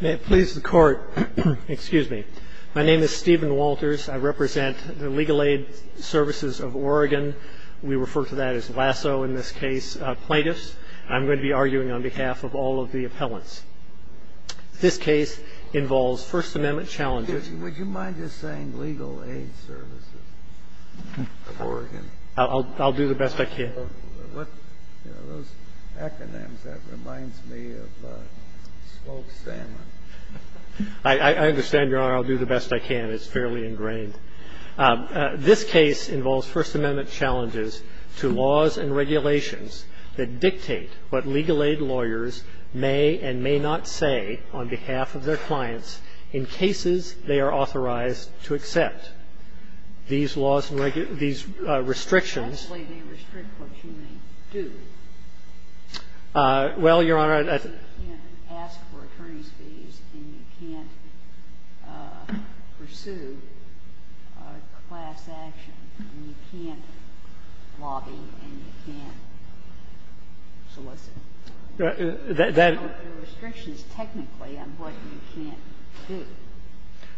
May it please the Court, excuse me. My name is Stephen Walters. I represent the Legal Aid Services of Oregon. We refer to that as LASO in this case, plaintiffs. I'm going to be arguing on behalf of all of the appellants. This case involves First Amendment challenges. Would you mind just saying Legal Aid Services of Oregon? I'll do the best I can. Those acronyms, that reminds me of smoked salmon. I understand, Your Honor, I'll do the best I can. It's fairly ingrained. This case involves First Amendment challenges to laws and regulations that dictate what legal aid lawyers may and may not say on behalf of their clients in cases they are authorized to accept. These laws and these restrictions. Actually, they restrict what you may do. Well, Your Honor, I think you can't ask for attorney's fees and you can't pursue class action and you can't lobby and you can't solicit. There are restrictions technically on what you can't do.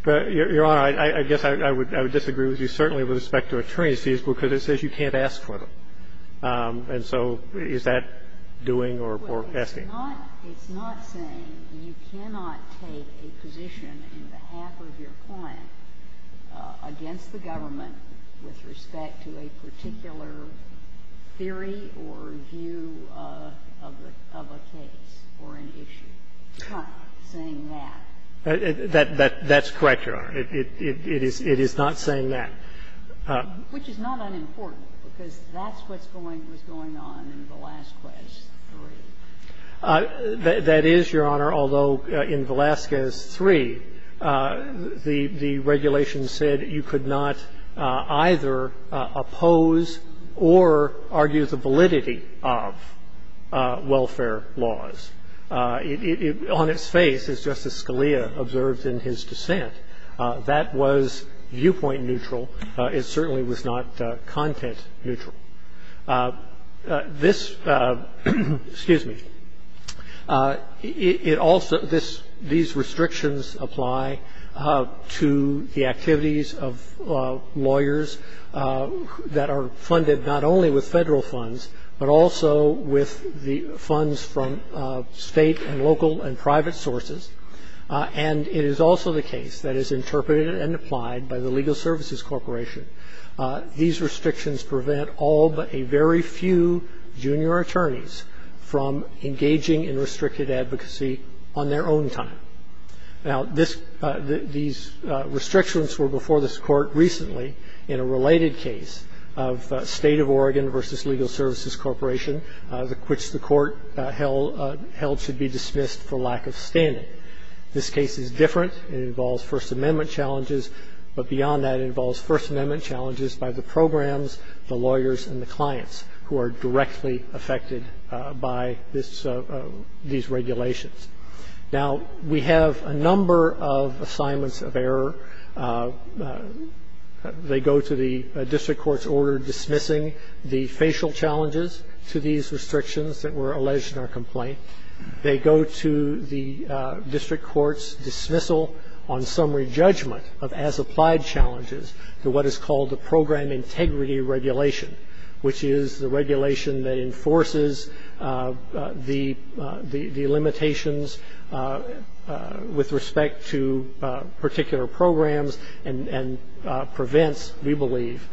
But, Your Honor, I guess I would disagree with you certainly with respect to attorney's fees because it says you can't ask for them. And so is that doing or asking? It's not saying you cannot take a position on behalf of your client against the government with respect to a particular theory or view of a case or an issue. It's not saying that. That's correct, Your Honor. It is not saying that. Which is not unimportant because that's what's going on in Velazquez III. That is, Your Honor, although in Velazquez III, the regulation said you could not either oppose or argue the validity of welfare laws. On its face, as Justice Scalia observed in his dissent, that was viewpoint neutral. It certainly was not content neutral. This -- excuse me. These restrictions apply to the activities of lawyers that are funded not only with Federal funds, but also with the funds from State and local and private sources. And it is also the case that is interpreted and applied by the Legal Services Corporation. These restrictions prevent all but a very few junior attorneys from engaging in restricted advocacy on their own time. Now, these restrictions were before this Court recently in a related case of State of Oregon v. Legal Services Corporation, which the Court held should be dismissed for lack of standing. This case is different. It involves First Amendment challenges. But beyond that, it involves First Amendment challenges by the programs, the lawyers, and the clients who are directly affected by this -- these regulations. Now, we have a number of assignments of error. They go to the district court's order dismissing the facial challenges to these restrictions that were alleged in our complaint. They go to the district court's dismissal on summary judgment of as-applied challenges to what is called the program integrity regulation, which is the regulation that enforces the limitations with respect to particular programs and prevents, we believe,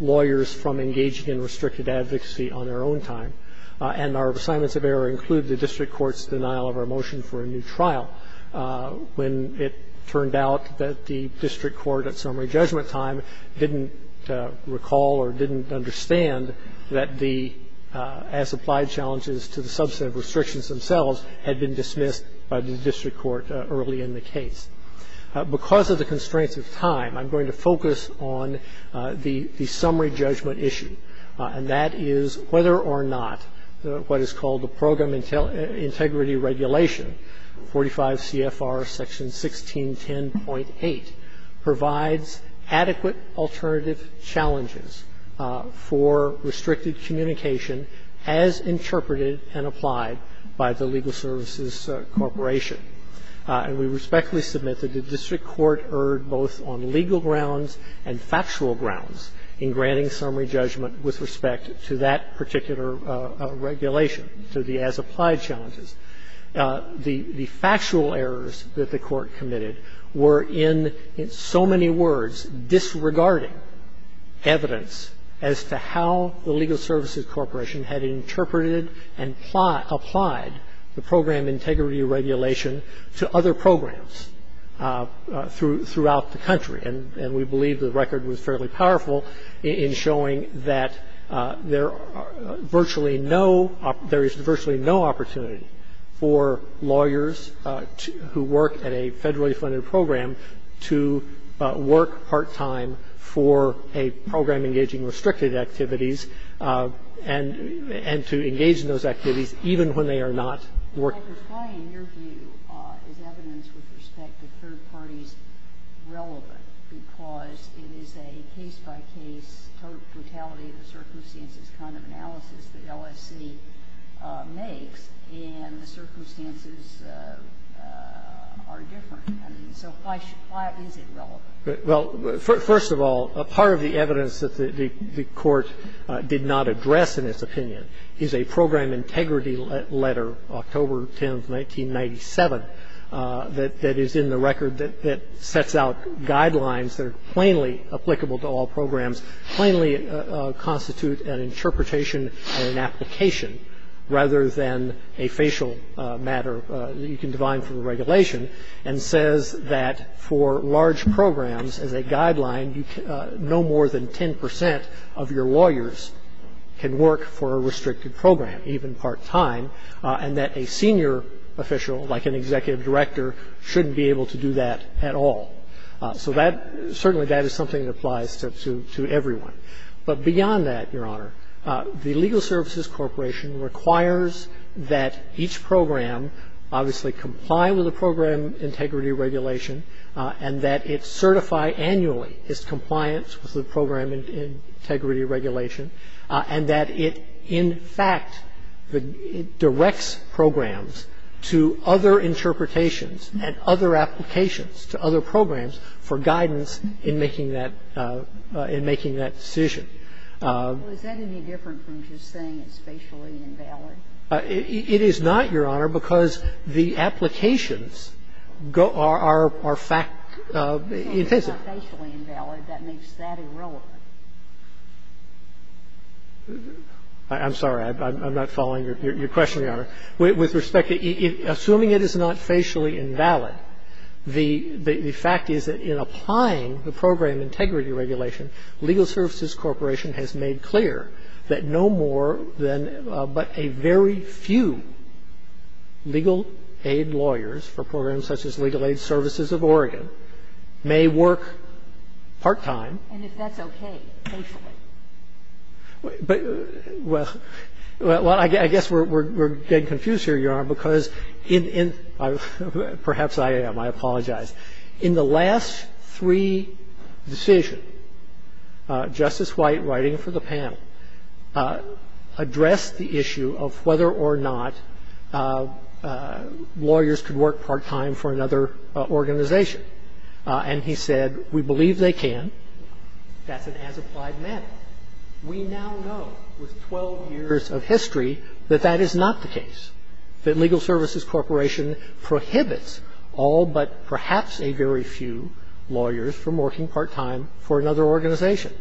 lawyers from engaging in restricted advocacy on their own time. And our assignments of error include the district court's denial of our motion for a new trial when it turned out that the district court at summary judgment time didn't recall or didn't understand that the as-applied challenges to the subset of restrictions themselves had been dismissed by the district court early in the case. Because of the constraints of time, I'm going to focus on the summary judgment issue, and that is whether or not what is called the program integrity regulation, 45 CFR section 1610.8, provides adequate alternative challenges for restricted communication as interpreted and applied by the legal services corporation. And we respectfully submit that the district court erred both on legal grounds and factual grounds in granting summary judgment with respect to that particular regulation, to the as-applied challenges. The factual errors that the Court committed were in so many words disregarding evidence as to how the legal services corporation had interpreted and applied the program integrity regulation to other programs throughout the country. And we believe the record was fairly powerful in showing that there are virtually no – there is virtually no opportunity for lawyers who work at a federally funded program to work part-time for a program engaging restricted activities and to engage in those activities even when they are not working. And so the question is why in your view is evidence with respect to third parties relevant, because it is a case-by-case, total brutality of the circumstances kind of analysis that LSC makes, and the circumstances are different. I mean, so why is it relevant? Well, first of all, part of the evidence that the Court did not address in its opinion is a program integrity letter, October 10, 1997, that is in the record that sets out guidelines that are plainly applicable to all programs, plainly constitute an interpretation or an application rather than a facial matter that you can divine for the regulation, and says that for large programs, as a guideline, no more than 10 percent of your lawyers can work for a restricted program, even part-time, and that a senior official, like an executive director, shouldn't be able to do that at all. So that – certainly that is something that applies to everyone. But beyond that, Your Honor, the Legal Services Corporation requires that each program obviously comply with the program integrity regulation and that it certify annually its compliance with the program integrity regulation, and that it, in fact, directs programs to other interpretations and other applications to other programs for guidance in making that – in making that decision. Well, is that any different from just saying it's facially invalid? It is not, Your Honor, because the applications go – are fact-intensive. If it's not facially invalid, that makes that irrelevant. I'm sorry. I'm not following your question, Your Honor. With respect to – assuming it is not facially invalid, the fact is that in applying the program integrity regulation, Legal Services Corporation has made clear that no more than – but a very few legal aid lawyers for programs such as Legal Aid Services of Oregon may work part-time. And if that's okay, they should. Well, I guess we're getting confused here, Your Honor, because in – perhaps I am. I apologize. In the last three decisions, Justice White, writing for the panel, addressed the issue of whether or not lawyers could work part-time for another organization and he said, we believe they can. That's an as-applied matter. We now know with 12 years of history that that is not the case, that Legal Services Corporation prohibits all but perhaps a very few lawyers from working part-time for another organization.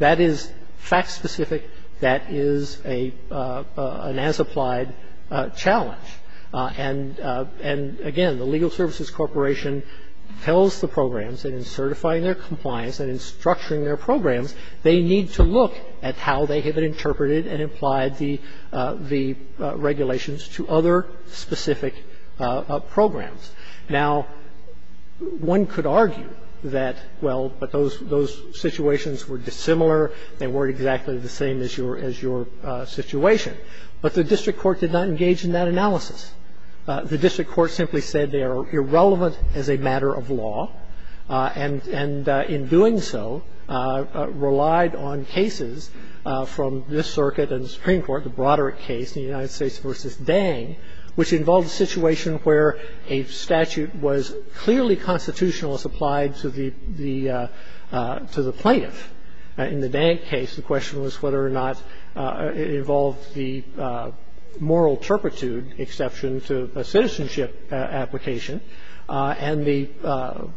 That is fact-specific. That is a – an as-applied challenge. And – and again, the Legal Services Corporation tells the programs that in certifying their compliance and in structuring their programs, they need to look at how they have been interpreted and applied the – the regulations to other specific programs. Now, one could argue that, well, but those – those situations were dissimilar. They weren't exactly the same as your – as your situation. But the district court did not engage in that analysis. The district court simply said they are irrelevant as a matter of law and – and in doing so, relied on cases from this circuit and the Supreme Court, the Broderick case in the United States v. Dang, which involved a situation where a statute was clearly constitutional as applied to the – the – to the plaintiff. In the Dang case, the question was whether or not it involved the moral turpitude exception to a citizenship application, and the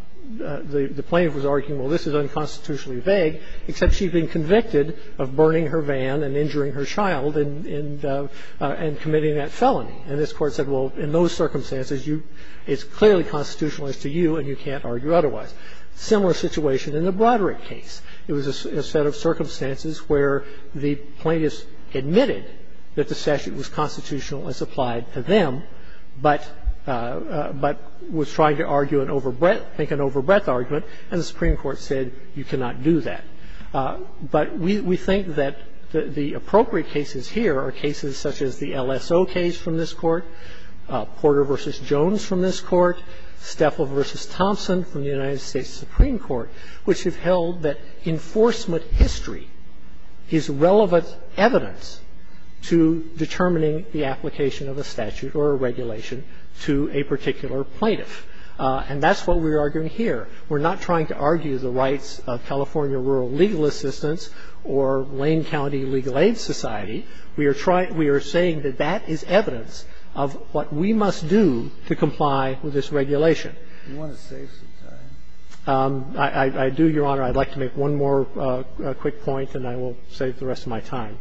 – the plaintiff was arguing, well, this is unconstitutionally vague, except she'd been convicted of burning her van and injuring her child and – and committing that felony. And this Court said, well, in those circumstances, you – it's clearly constitutional as to you, and you can't argue otherwise. Similar situation in the Broderick case. It was a – a set of circumstances where the plaintiff admitted that the statute was constitutional as applied to them, but – but was trying to argue an overbreadth – make an overbreadth argument, and the Supreme Court said you cannot do that. But we – we think that the appropriate cases here are cases such as the LSO case from this Court, Porter v. Jones from this Court, Stefel v. Thompson from the United States, which have held that enforcement history is relevant evidence to determining the application of a statute or a regulation to a particular plaintiff. And that's what we're arguing here. We're not trying to argue the rights of California Rural Legal Assistance or Lane County Legal Aid Society. We are trying – we are saying that that is evidence of what we must do to comply with this regulation. Do you want to save some time? I do, Your Honor. I'd like to make one more quick point, and I will save the rest of my time.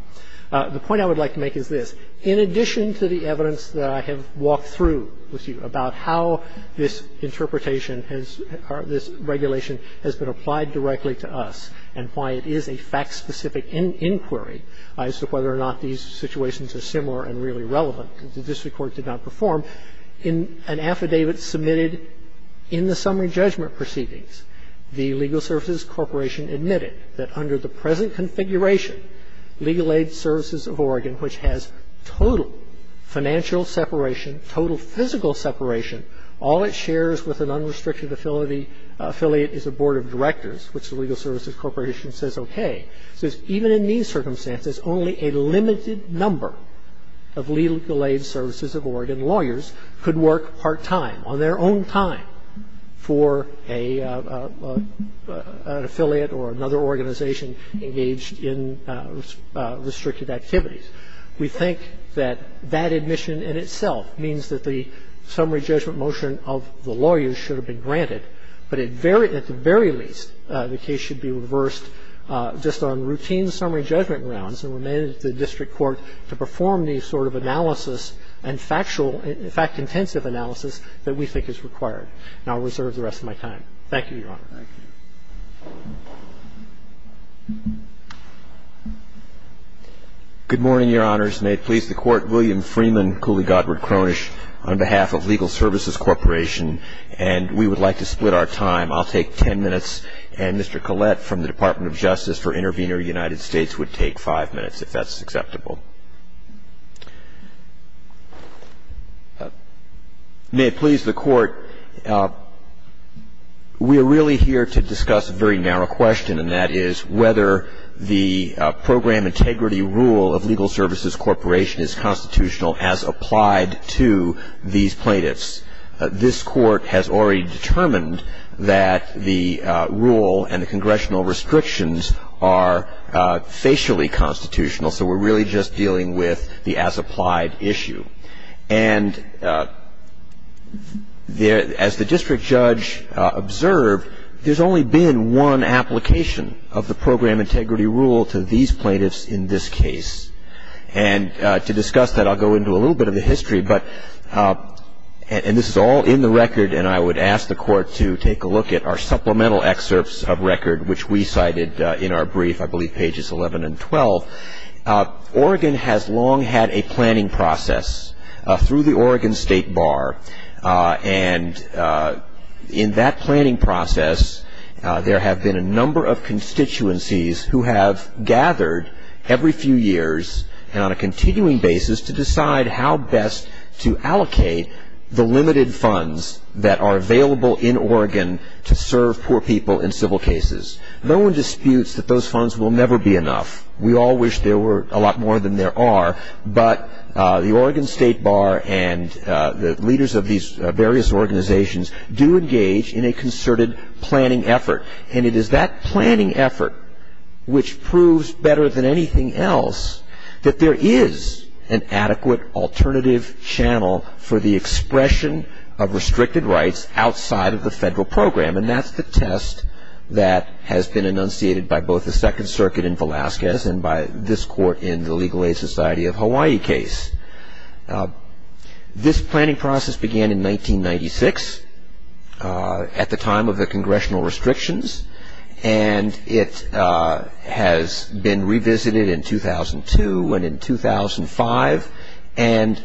The point I would like to make is this. In addition to the evidence that I have walked through with you about how this interpretation has – or this regulation has been applied directly to us and why it is a fact-specific inquiry as to whether or not these situations are similar and really relevant, the District Court did not perform. In an affidavit submitted in the summary judgment proceedings, the Legal Services Corporation admitted that under the present configuration, Legal Aid Services of Oregon, which has total financial separation, total physical separation, all it shares with an unrestricted affiliate is a board of directors, which the Legal Services Corporation says okay. So even in these circumstances, only a limited number of Legal Aid Services of Oregon lawyers could work part-time, on their own time, for an affiliate or another organization engaged in restricted activities. We think that that admission in itself means that the summary judgment motion of the lawyers should have been granted, but at the very least, the case should be reversed just on routine summary judgment rounds and remain at the District Court to perform the sort of analysis and factual – fact-intensive analysis that we think is required. And I'll reserve the rest of my time. Thank you, Your Honor. Thank you. Good morning, Your Honors. May it please the Court. William Freeman, Cooley Godward Cronish, on behalf of Legal Services Corporation. And we would like to split our time. I'll take ten minutes, and Mr. Collette from the Department of Justice for Intervenor United States would take five minutes, if that's acceptable. May it please the Court. We are really here to discuss a very narrow question, and that is whether the program integrity rule of Legal Services Corporation is constitutional as applied to these plaintiffs. This Court has already determined that the rule and the congressional restrictions are facially constitutional, so we're really just dealing with the as-applied issue. And as the district judge observed, there's only been one application of the program integrity rule to these plaintiffs in this case. And to discuss that, I'll go into a little bit of the history. But this is all in the record, and I would ask the Court to take a look at our supplemental excerpts of record, which we cited in our brief, I believe pages 11 and 12. Oregon has long had a planning process through the Oregon State Bar. And in that planning process, there have been a number of constituencies who have on a continuing basis to decide how best to allocate the limited funds that are available in Oregon to serve poor people in civil cases. No one disputes that those funds will never be enough. We all wish there were a lot more than there are, but the Oregon State Bar and the leaders of these various organizations do engage in a concerted planning effort. And it is that planning effort which proves better than anything else that there is an adequate alternative channel for the expression of restricted rights outside of the federal program. And that's the test that has been enunciated by both the Second Circuit in Velasquez and by this Court in the Legal Aid Society of Hawaii case. This planning process began in 1996 at the time of the congressional restrictions. And it has been revisited in 2002 and in 2005. And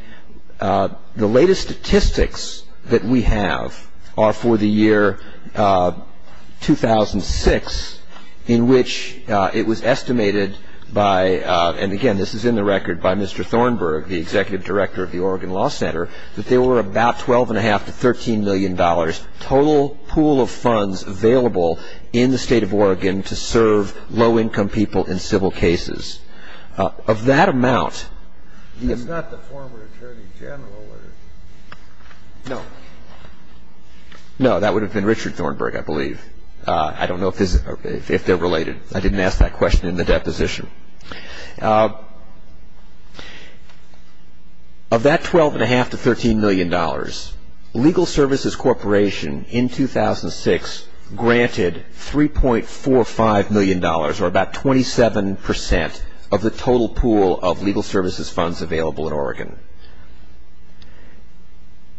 the latest statistics that we have are for the year 2006 in which it was estimated by, and again, this is in the record by Mr. Thornburg, the Executive Director of the Oregon Law Center, that there were about $12.5 to $13 million total pool of funds available in the state of Oregon to serve low-income people in civil cases. Of that amount, the- It's not the former Attorney General or- No. No, that would have been Richard Thornburg, I believe. I don't know if they're related. I didn't ask that question in the deposition. Of that $12.5 to $13 million, Legal Services Corporation in 2006 granted $3.45 million or about 27% of the total pool of legal services funds available in Oregon.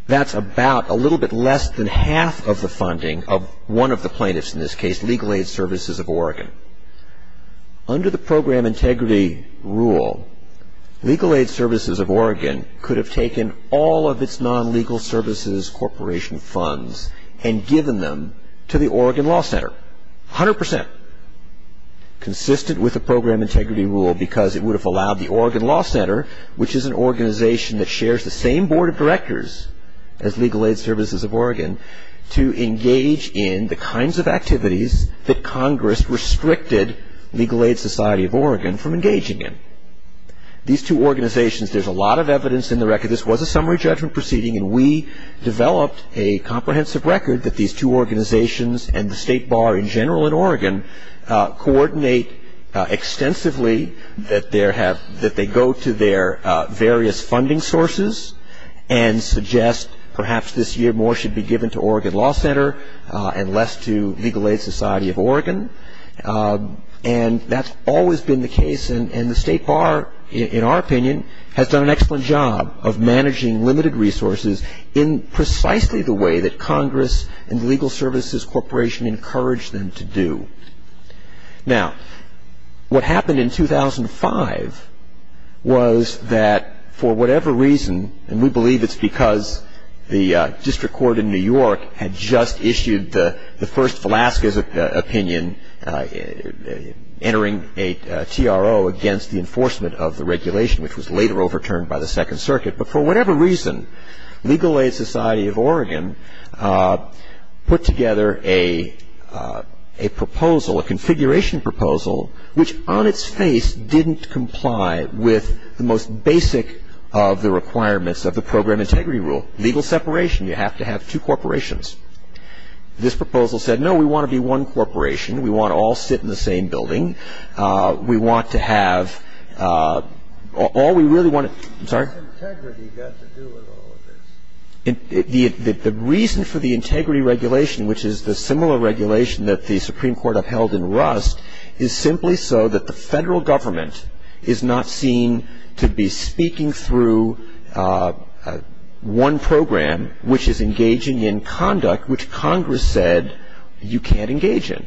That's about a little bit less than half of the funding of one of the plaintiffs in this case, Legal Aid Services of Oregon. Under the program integrity rule, Legal Aid Services of Oregon could have taken all of its non-legal services corporation funds and given them to the Oregon Law Center, 100% consistent with the program integrity rule because it would have allowed the Oregon Law Center, which is an organization that shares the same board of directors as Legal Aid Services of Oregon, to engage in the kinds of activities that Congress restricted Legal Aid Society of Oregon from engaging in. These two organizations, there's a lot of evidence in the record. This was a summary judgment proceeding, and we developed a comprehensive record that these two organizations and the State Bar in general in Oregon coordinate extensively that they go to their various funding sources and suggest perhaps this year, more should be given to Oregon Law Center and less to Legal Aid Society of Oregon. And that's always been the case. And the State Bar, in our opinion, has done an excellent job of managing limited resources in precisely the way that Congress and Legal Services Corporation encouraged them to do. Now, what happened in 2005 was that for whatever reason, and we believe it's because the district court in New York had just issued the first Velasquez opinion, entering a TRO against the enforcement of the regulation, which was later overturned by the Second Circuit. But for whatever reason, Legal Aid Society of Oregon put together a proposal, a configuration proposal, which on its face didn't comply with the most basic of the requirements of the program integrity rule. Legal separation. You have to have two corporations. This proposal said, no, we want to be one corporation. We want to all sit in the same building. We want to have all we really want to. I'm sorry? What has integrity got to do with all of this? The reason for the integrity regulation, which is the similar regulation that the Supreme Court upheld in Rust, is simply so that the federal government is not seen to be speaking through one program which is engaging in conduct which Congress said you can't engage in.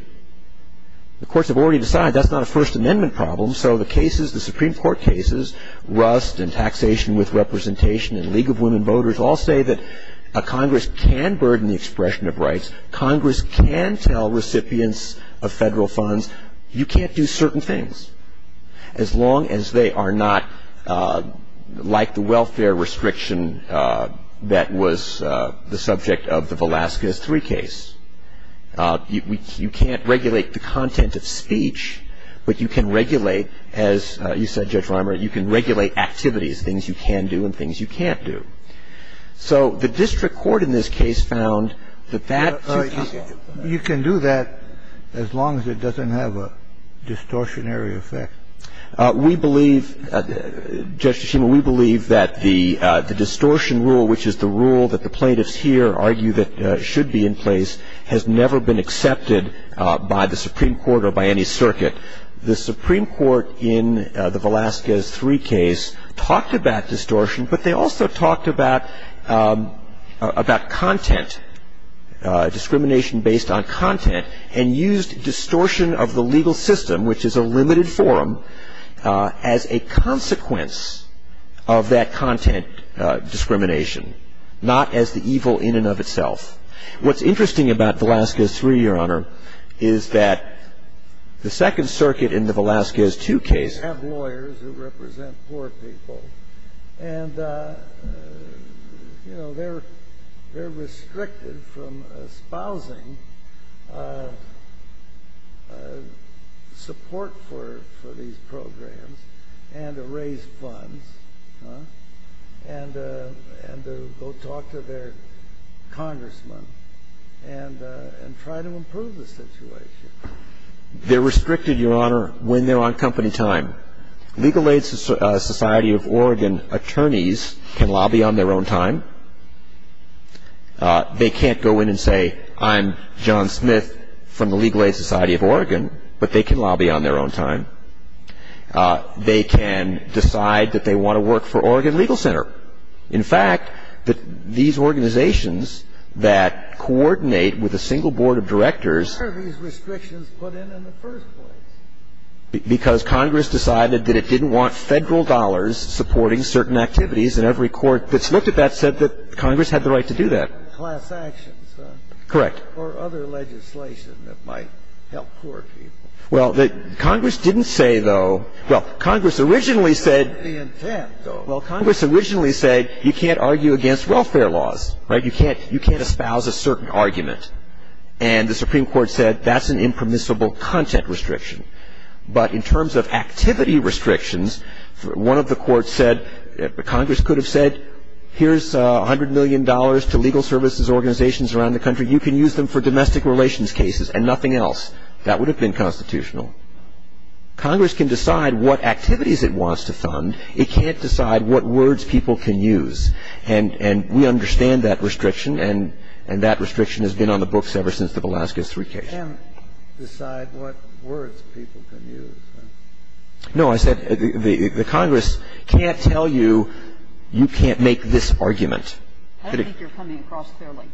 The courts have already decided that's not a First Amendment problem, so the cases, the Supreme Court cases, Rust and taxation with representation and League of Women Voters, all say that Congress can burden the expression of rights. Congress can tell recipients of federal funds you can't do certain things as long as they are not like the welfare restriction that was the subject of the Velasquez 3 case. You can't regulate the content of speech, but you can regulate, as you said, Judge Reimer, you can regulate activities, things you can do and things you can't do. So the district court in this case found that that. You can do that as long as it doesn't have a distortionary effect. We believe, Judge Nishimura, we believe that the distortion rule, which is the rule that the plaintiffs here argue that should be in place, has never been accepted by the Supreme Court or by any circuit. The Supreme Court in the Velasquez 3 case talked about distortion, but they also talked about content, discrimination based on content, and used distortion of the legal system, which is a limited forum, as a consequence of that content discrimination, not as the evil in and of itself. What's interesting about Velasquez 3, Your Honor, is that the Second Circuit in the Velasquez 2 case have lawyers who represent poor people, and they're restricted from espousing support for these programs and to raise funds and to go talk to their congressmen and try to improve the situation. They're restricted, Your Honor, when they're on company time. Legal Aid Society of Oregon attorneys can lobby on their own time. They can't go in and say, I'm John Smith from the Legal Aid Society of Oregon, but they can lobby on their own time. They can decide that they want to work for Oregon Legal Center. In fact, these organizations that coordinate with a single board of directors are the ones that are restricted in the first place. Because Congress decided that it didn't want federal dollars supporting certain activities, and every court that's looked at that said that Congress had the right to do that. Class actions, huh? Correct. Or other legislation that might help poor people. Well, Congress didn't say, though. Well, Congress originally said. The intent, though. Well, Congress originally said, you can't argue against welfare laws, right? You can't espouse a certain argument. And the Supreme Court said, that's an impermissible content restriction. But in terms of activity restrictions, one of the courts said, Congress could have said, here's $100 million to legal services organizations around the country. You can use them for domestic relations cases and nothing else. That would have been constitutional. Congress can decide what activities it wants to fund. It can't decide what words people can use. And we understand that restriction, and that restriction has been on the books ever since the Velazquez III case. It can't decide what words people can use. No, I said the Congress can't tell you, you can't make this argument. I don't think you're coming across fairly.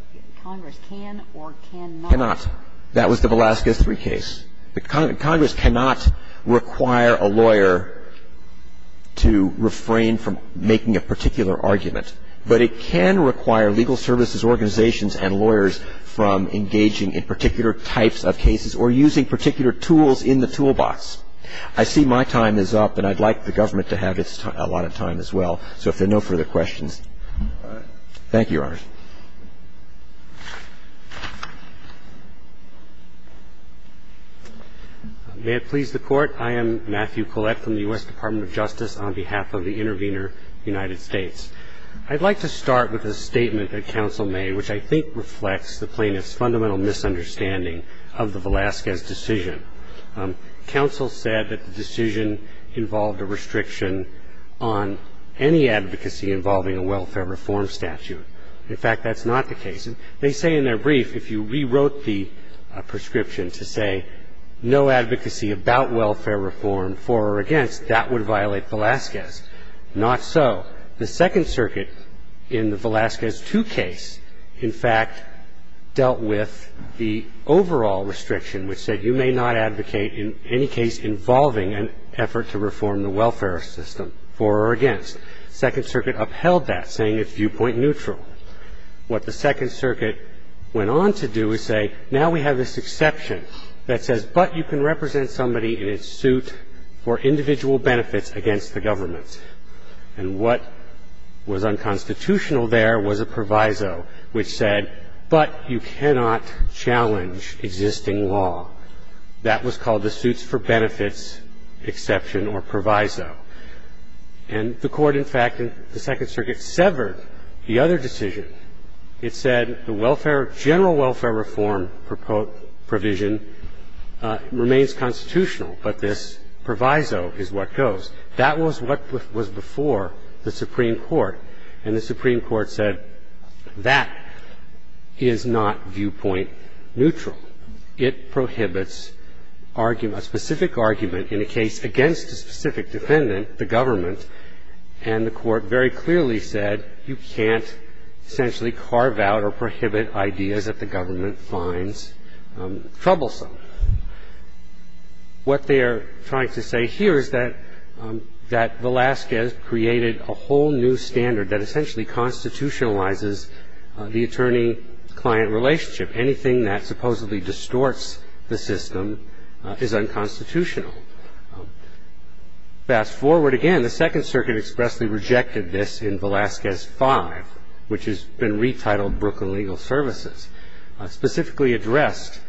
Congress can or cannot. Cannot. That was the Velazquez III case. Congress cannot require a lawyer to refrain from making a particular argument. But it can require legal services organizations and lawyers from engaging in particular types of cases or using particular tools in the toolbox. I see my time is up, and I'd like the government to have a lot of time as well. So if there are no further questions. Thank you, Your Honor. May it please the Court. I am Matthew Collette from the U.S. Department of Justice on behalf of the Intervenor United States. I'd like to start with a statement that counsel made, which I think reflects the plaintiff's fundamental misunderstanding of the Velazquez decision. Counsel said that the decision involved a restriction on any advocacy involving a welfare reform statute. In fact, that's not the case. They say in their brief, if you rewrote the prescription to say no advocacy about welfare reform for or against, that would violate Velazquez. Not so. The Second Circuit in the Velazquez II case, in fact, dealt with the overall restriction, which said you may not advocate in any case involving an effort to reform the welfare system for or against. Second Circuit upheld that, saying it's viewpoint neutral. What the Second Circuit went on to do is say, now we have this exception that says, but you can represent somebody in a suit for individual benefits against the government. And what was unconstitutional there was a proviso, which said, but you cannot challenge existing law. That was called the suits for benefits exception or proviso. And the Court, in fact, in the Second Circuit, severed the other decision. It said the welfare, general welfare reform provision remains constitutional, but this proviso is what goes. That was what was before the Supreme Court. And the Supreme Court said, that is not viewpoint neutral. It prohibits a specific argument in a case against a specific defendant, the government. And the Court very clearly said, you can't essentially carve out or prohibit ideas that the government finds troublesome. What they're trying to say here is that Velazquez created a whole new standard that essentially constitutionalizes the attorney-client relationship. Anything that supposedly distorts the system is unconstitutional. Fast forward again, the Second Circuit expressly rejected this in Velazquez 5, which has been retitled Brooklyn Legal Services. Specifically addressed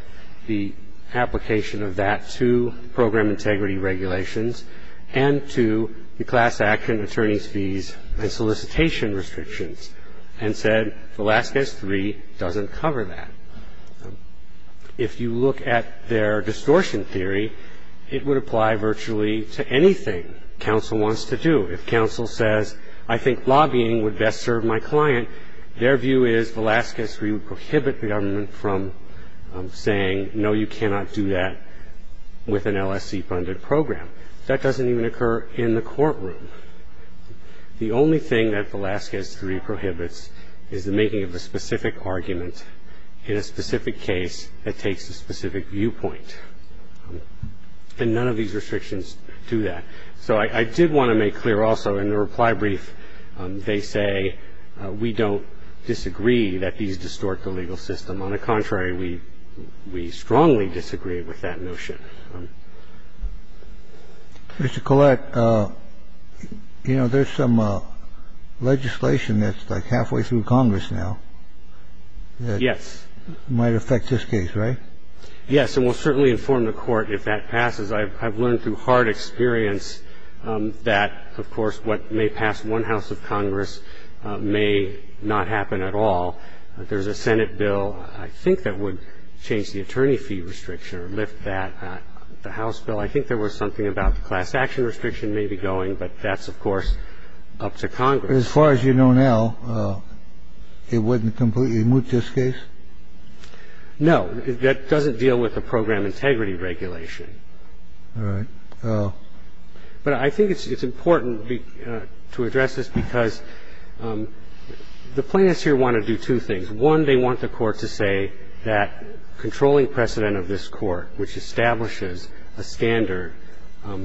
the application of that to program integrity regulations and to the class action attorney's fees and solicitation restrictions. And said, Velazquez 3 doesn't cover that. If you look at their distortion theory, it would apply virtually to anything counsel wants to do. If counsel says, I think lobbying would best serve my client, their view is Velazquez 3 would prohibit the government from saying, no, you cannot do that with an LSC-funded program. That doesn't even occur in the courtroom. The only thing that Velazquez 3 prohibits is the making of a specific argument in a specific case that takes a specific viewpoint. And none of these restrictions do that. So I did want to make clear also in the reply brief, they say we don't disagree that these distort the legal system. On the contrary, we strongly disagree with that notion. Mr. Collette, you know, there's some legislation that's like halfway through Congress now. Yes. It might affect this case, right? Yes, and we'll certainly inform the court if that passes. I've learned through hard experience that, of course, what may pass one house of Congress may not happen at all. There's a Senate bill, I think, that would change the attorney fee restriction or lift that. The House bill, I think there was something about the class action restriction may be going. But that's, of course, up to Congress. As far as you know now, it wouldn't completely move this case? No, that doesn't deal with the program integrity regulation. All right. But I think it's important to address this because the plaintiffs here want to do two things. One, they want the court to say that controlling precedent of this court, which establishes a standard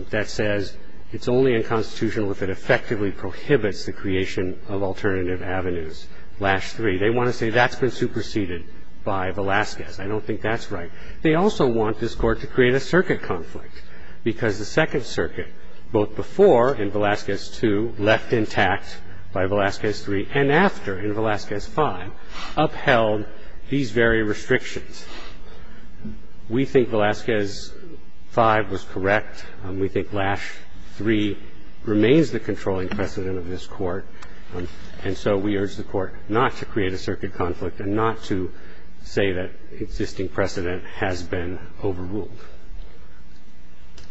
that says it's only unconstitutional if it effectively prohibits the creation of alternative avenues, lash three. They want to say that's been superseded by Velazquez. I don't think that's right. They also want this court to create a circuit conflict because the Second Circuit, both before in Velazquez two, left intact by Velazquez three, and after in Velazquez five, upheld these very restrictions. We think Velazquez five was correct. We think lash three remains the controlling precedent of this court. And so we urge the Court not to create a circuit conflict and not to say that existing precedent has been overruled.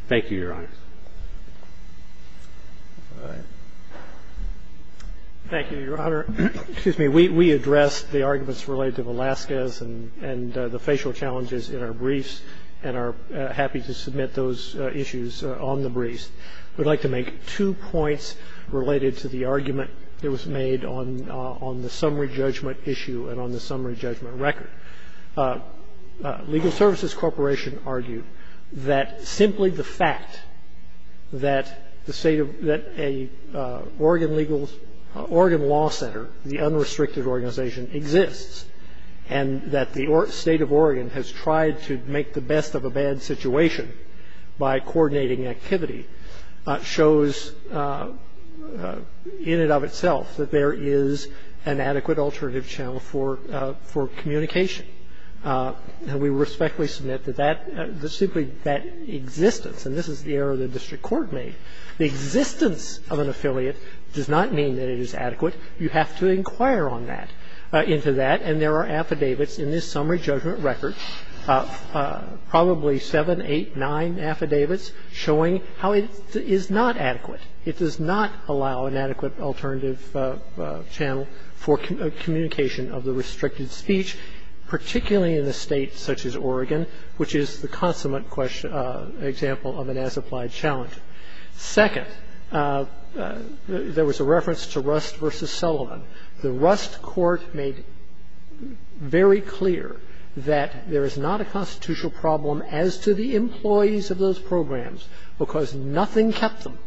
Thank you, Your Honor. All right. Thank you, Your Honor. Excuse me. We addressed the arguments related to Velazquez and the facial challenges in our briefs and are happy to submit those issues on the briefs. I would like to make two points related to the argument that was made on the summary judgment issue and on the summary judgment record. Legal Services Corporation argued that simply the fact that the State of the Oregon Legal – Oregon Law Center, the unrestricted organization, exists, and that the State of Oregon has tried to make the best of a bad situation by coordinating activity shows in and of itself that there is an adequate alternative channel for communication. And we respectfully submit that that – simply that existence, and this is the error the district court made, the existence of an affiliate does not mean that it is adequate. You have to inquire on that – into that. And there are affidavits in this summary judgment record, probably seven, eight, nine affidavits, showing how it is not adequate. It does not allow an adequate alternative channel for communication of the restricted speech, particularly in a State such as Oregon, which is the consummate example of an as-applied challenge. Second, there was a reference to Rust v. Sullivan. The Rust court made very clear that there is not a constitutional problem as to the employees of those programs, because nothing kept them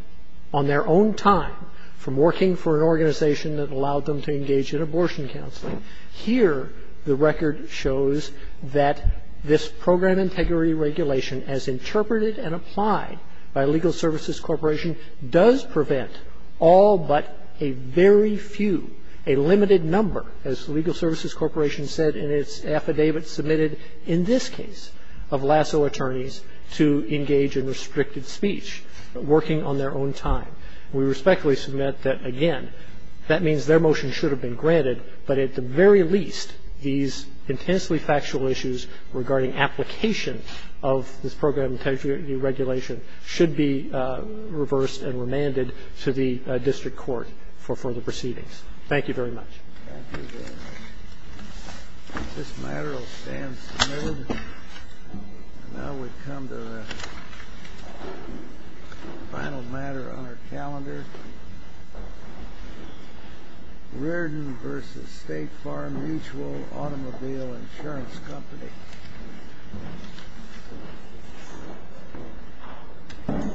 on their own time from working for an organization that allowed them to engage in abortion counseling. Here, the record shows that this program integrity regulation as interpreted and applied by Legal Services Corporation does prevent all but a very few, a limited number, as Legal Services Corporation said in its affidavit submitted in this case of lasso attorneys to engage in restricted speech, working on their own time. We respectfully submit that, again, that means their motion should have been granted, but at the very least, these intensely factual issues regarding application of this program integrity regulation should be reversed and remanded to the district court for further proceedings. Thank you very much. Thank you very much. This matter will stand submitted. And now we come to the final matter on our calendar. Reardon v. State Farm Mutual Automobile Insurance Company.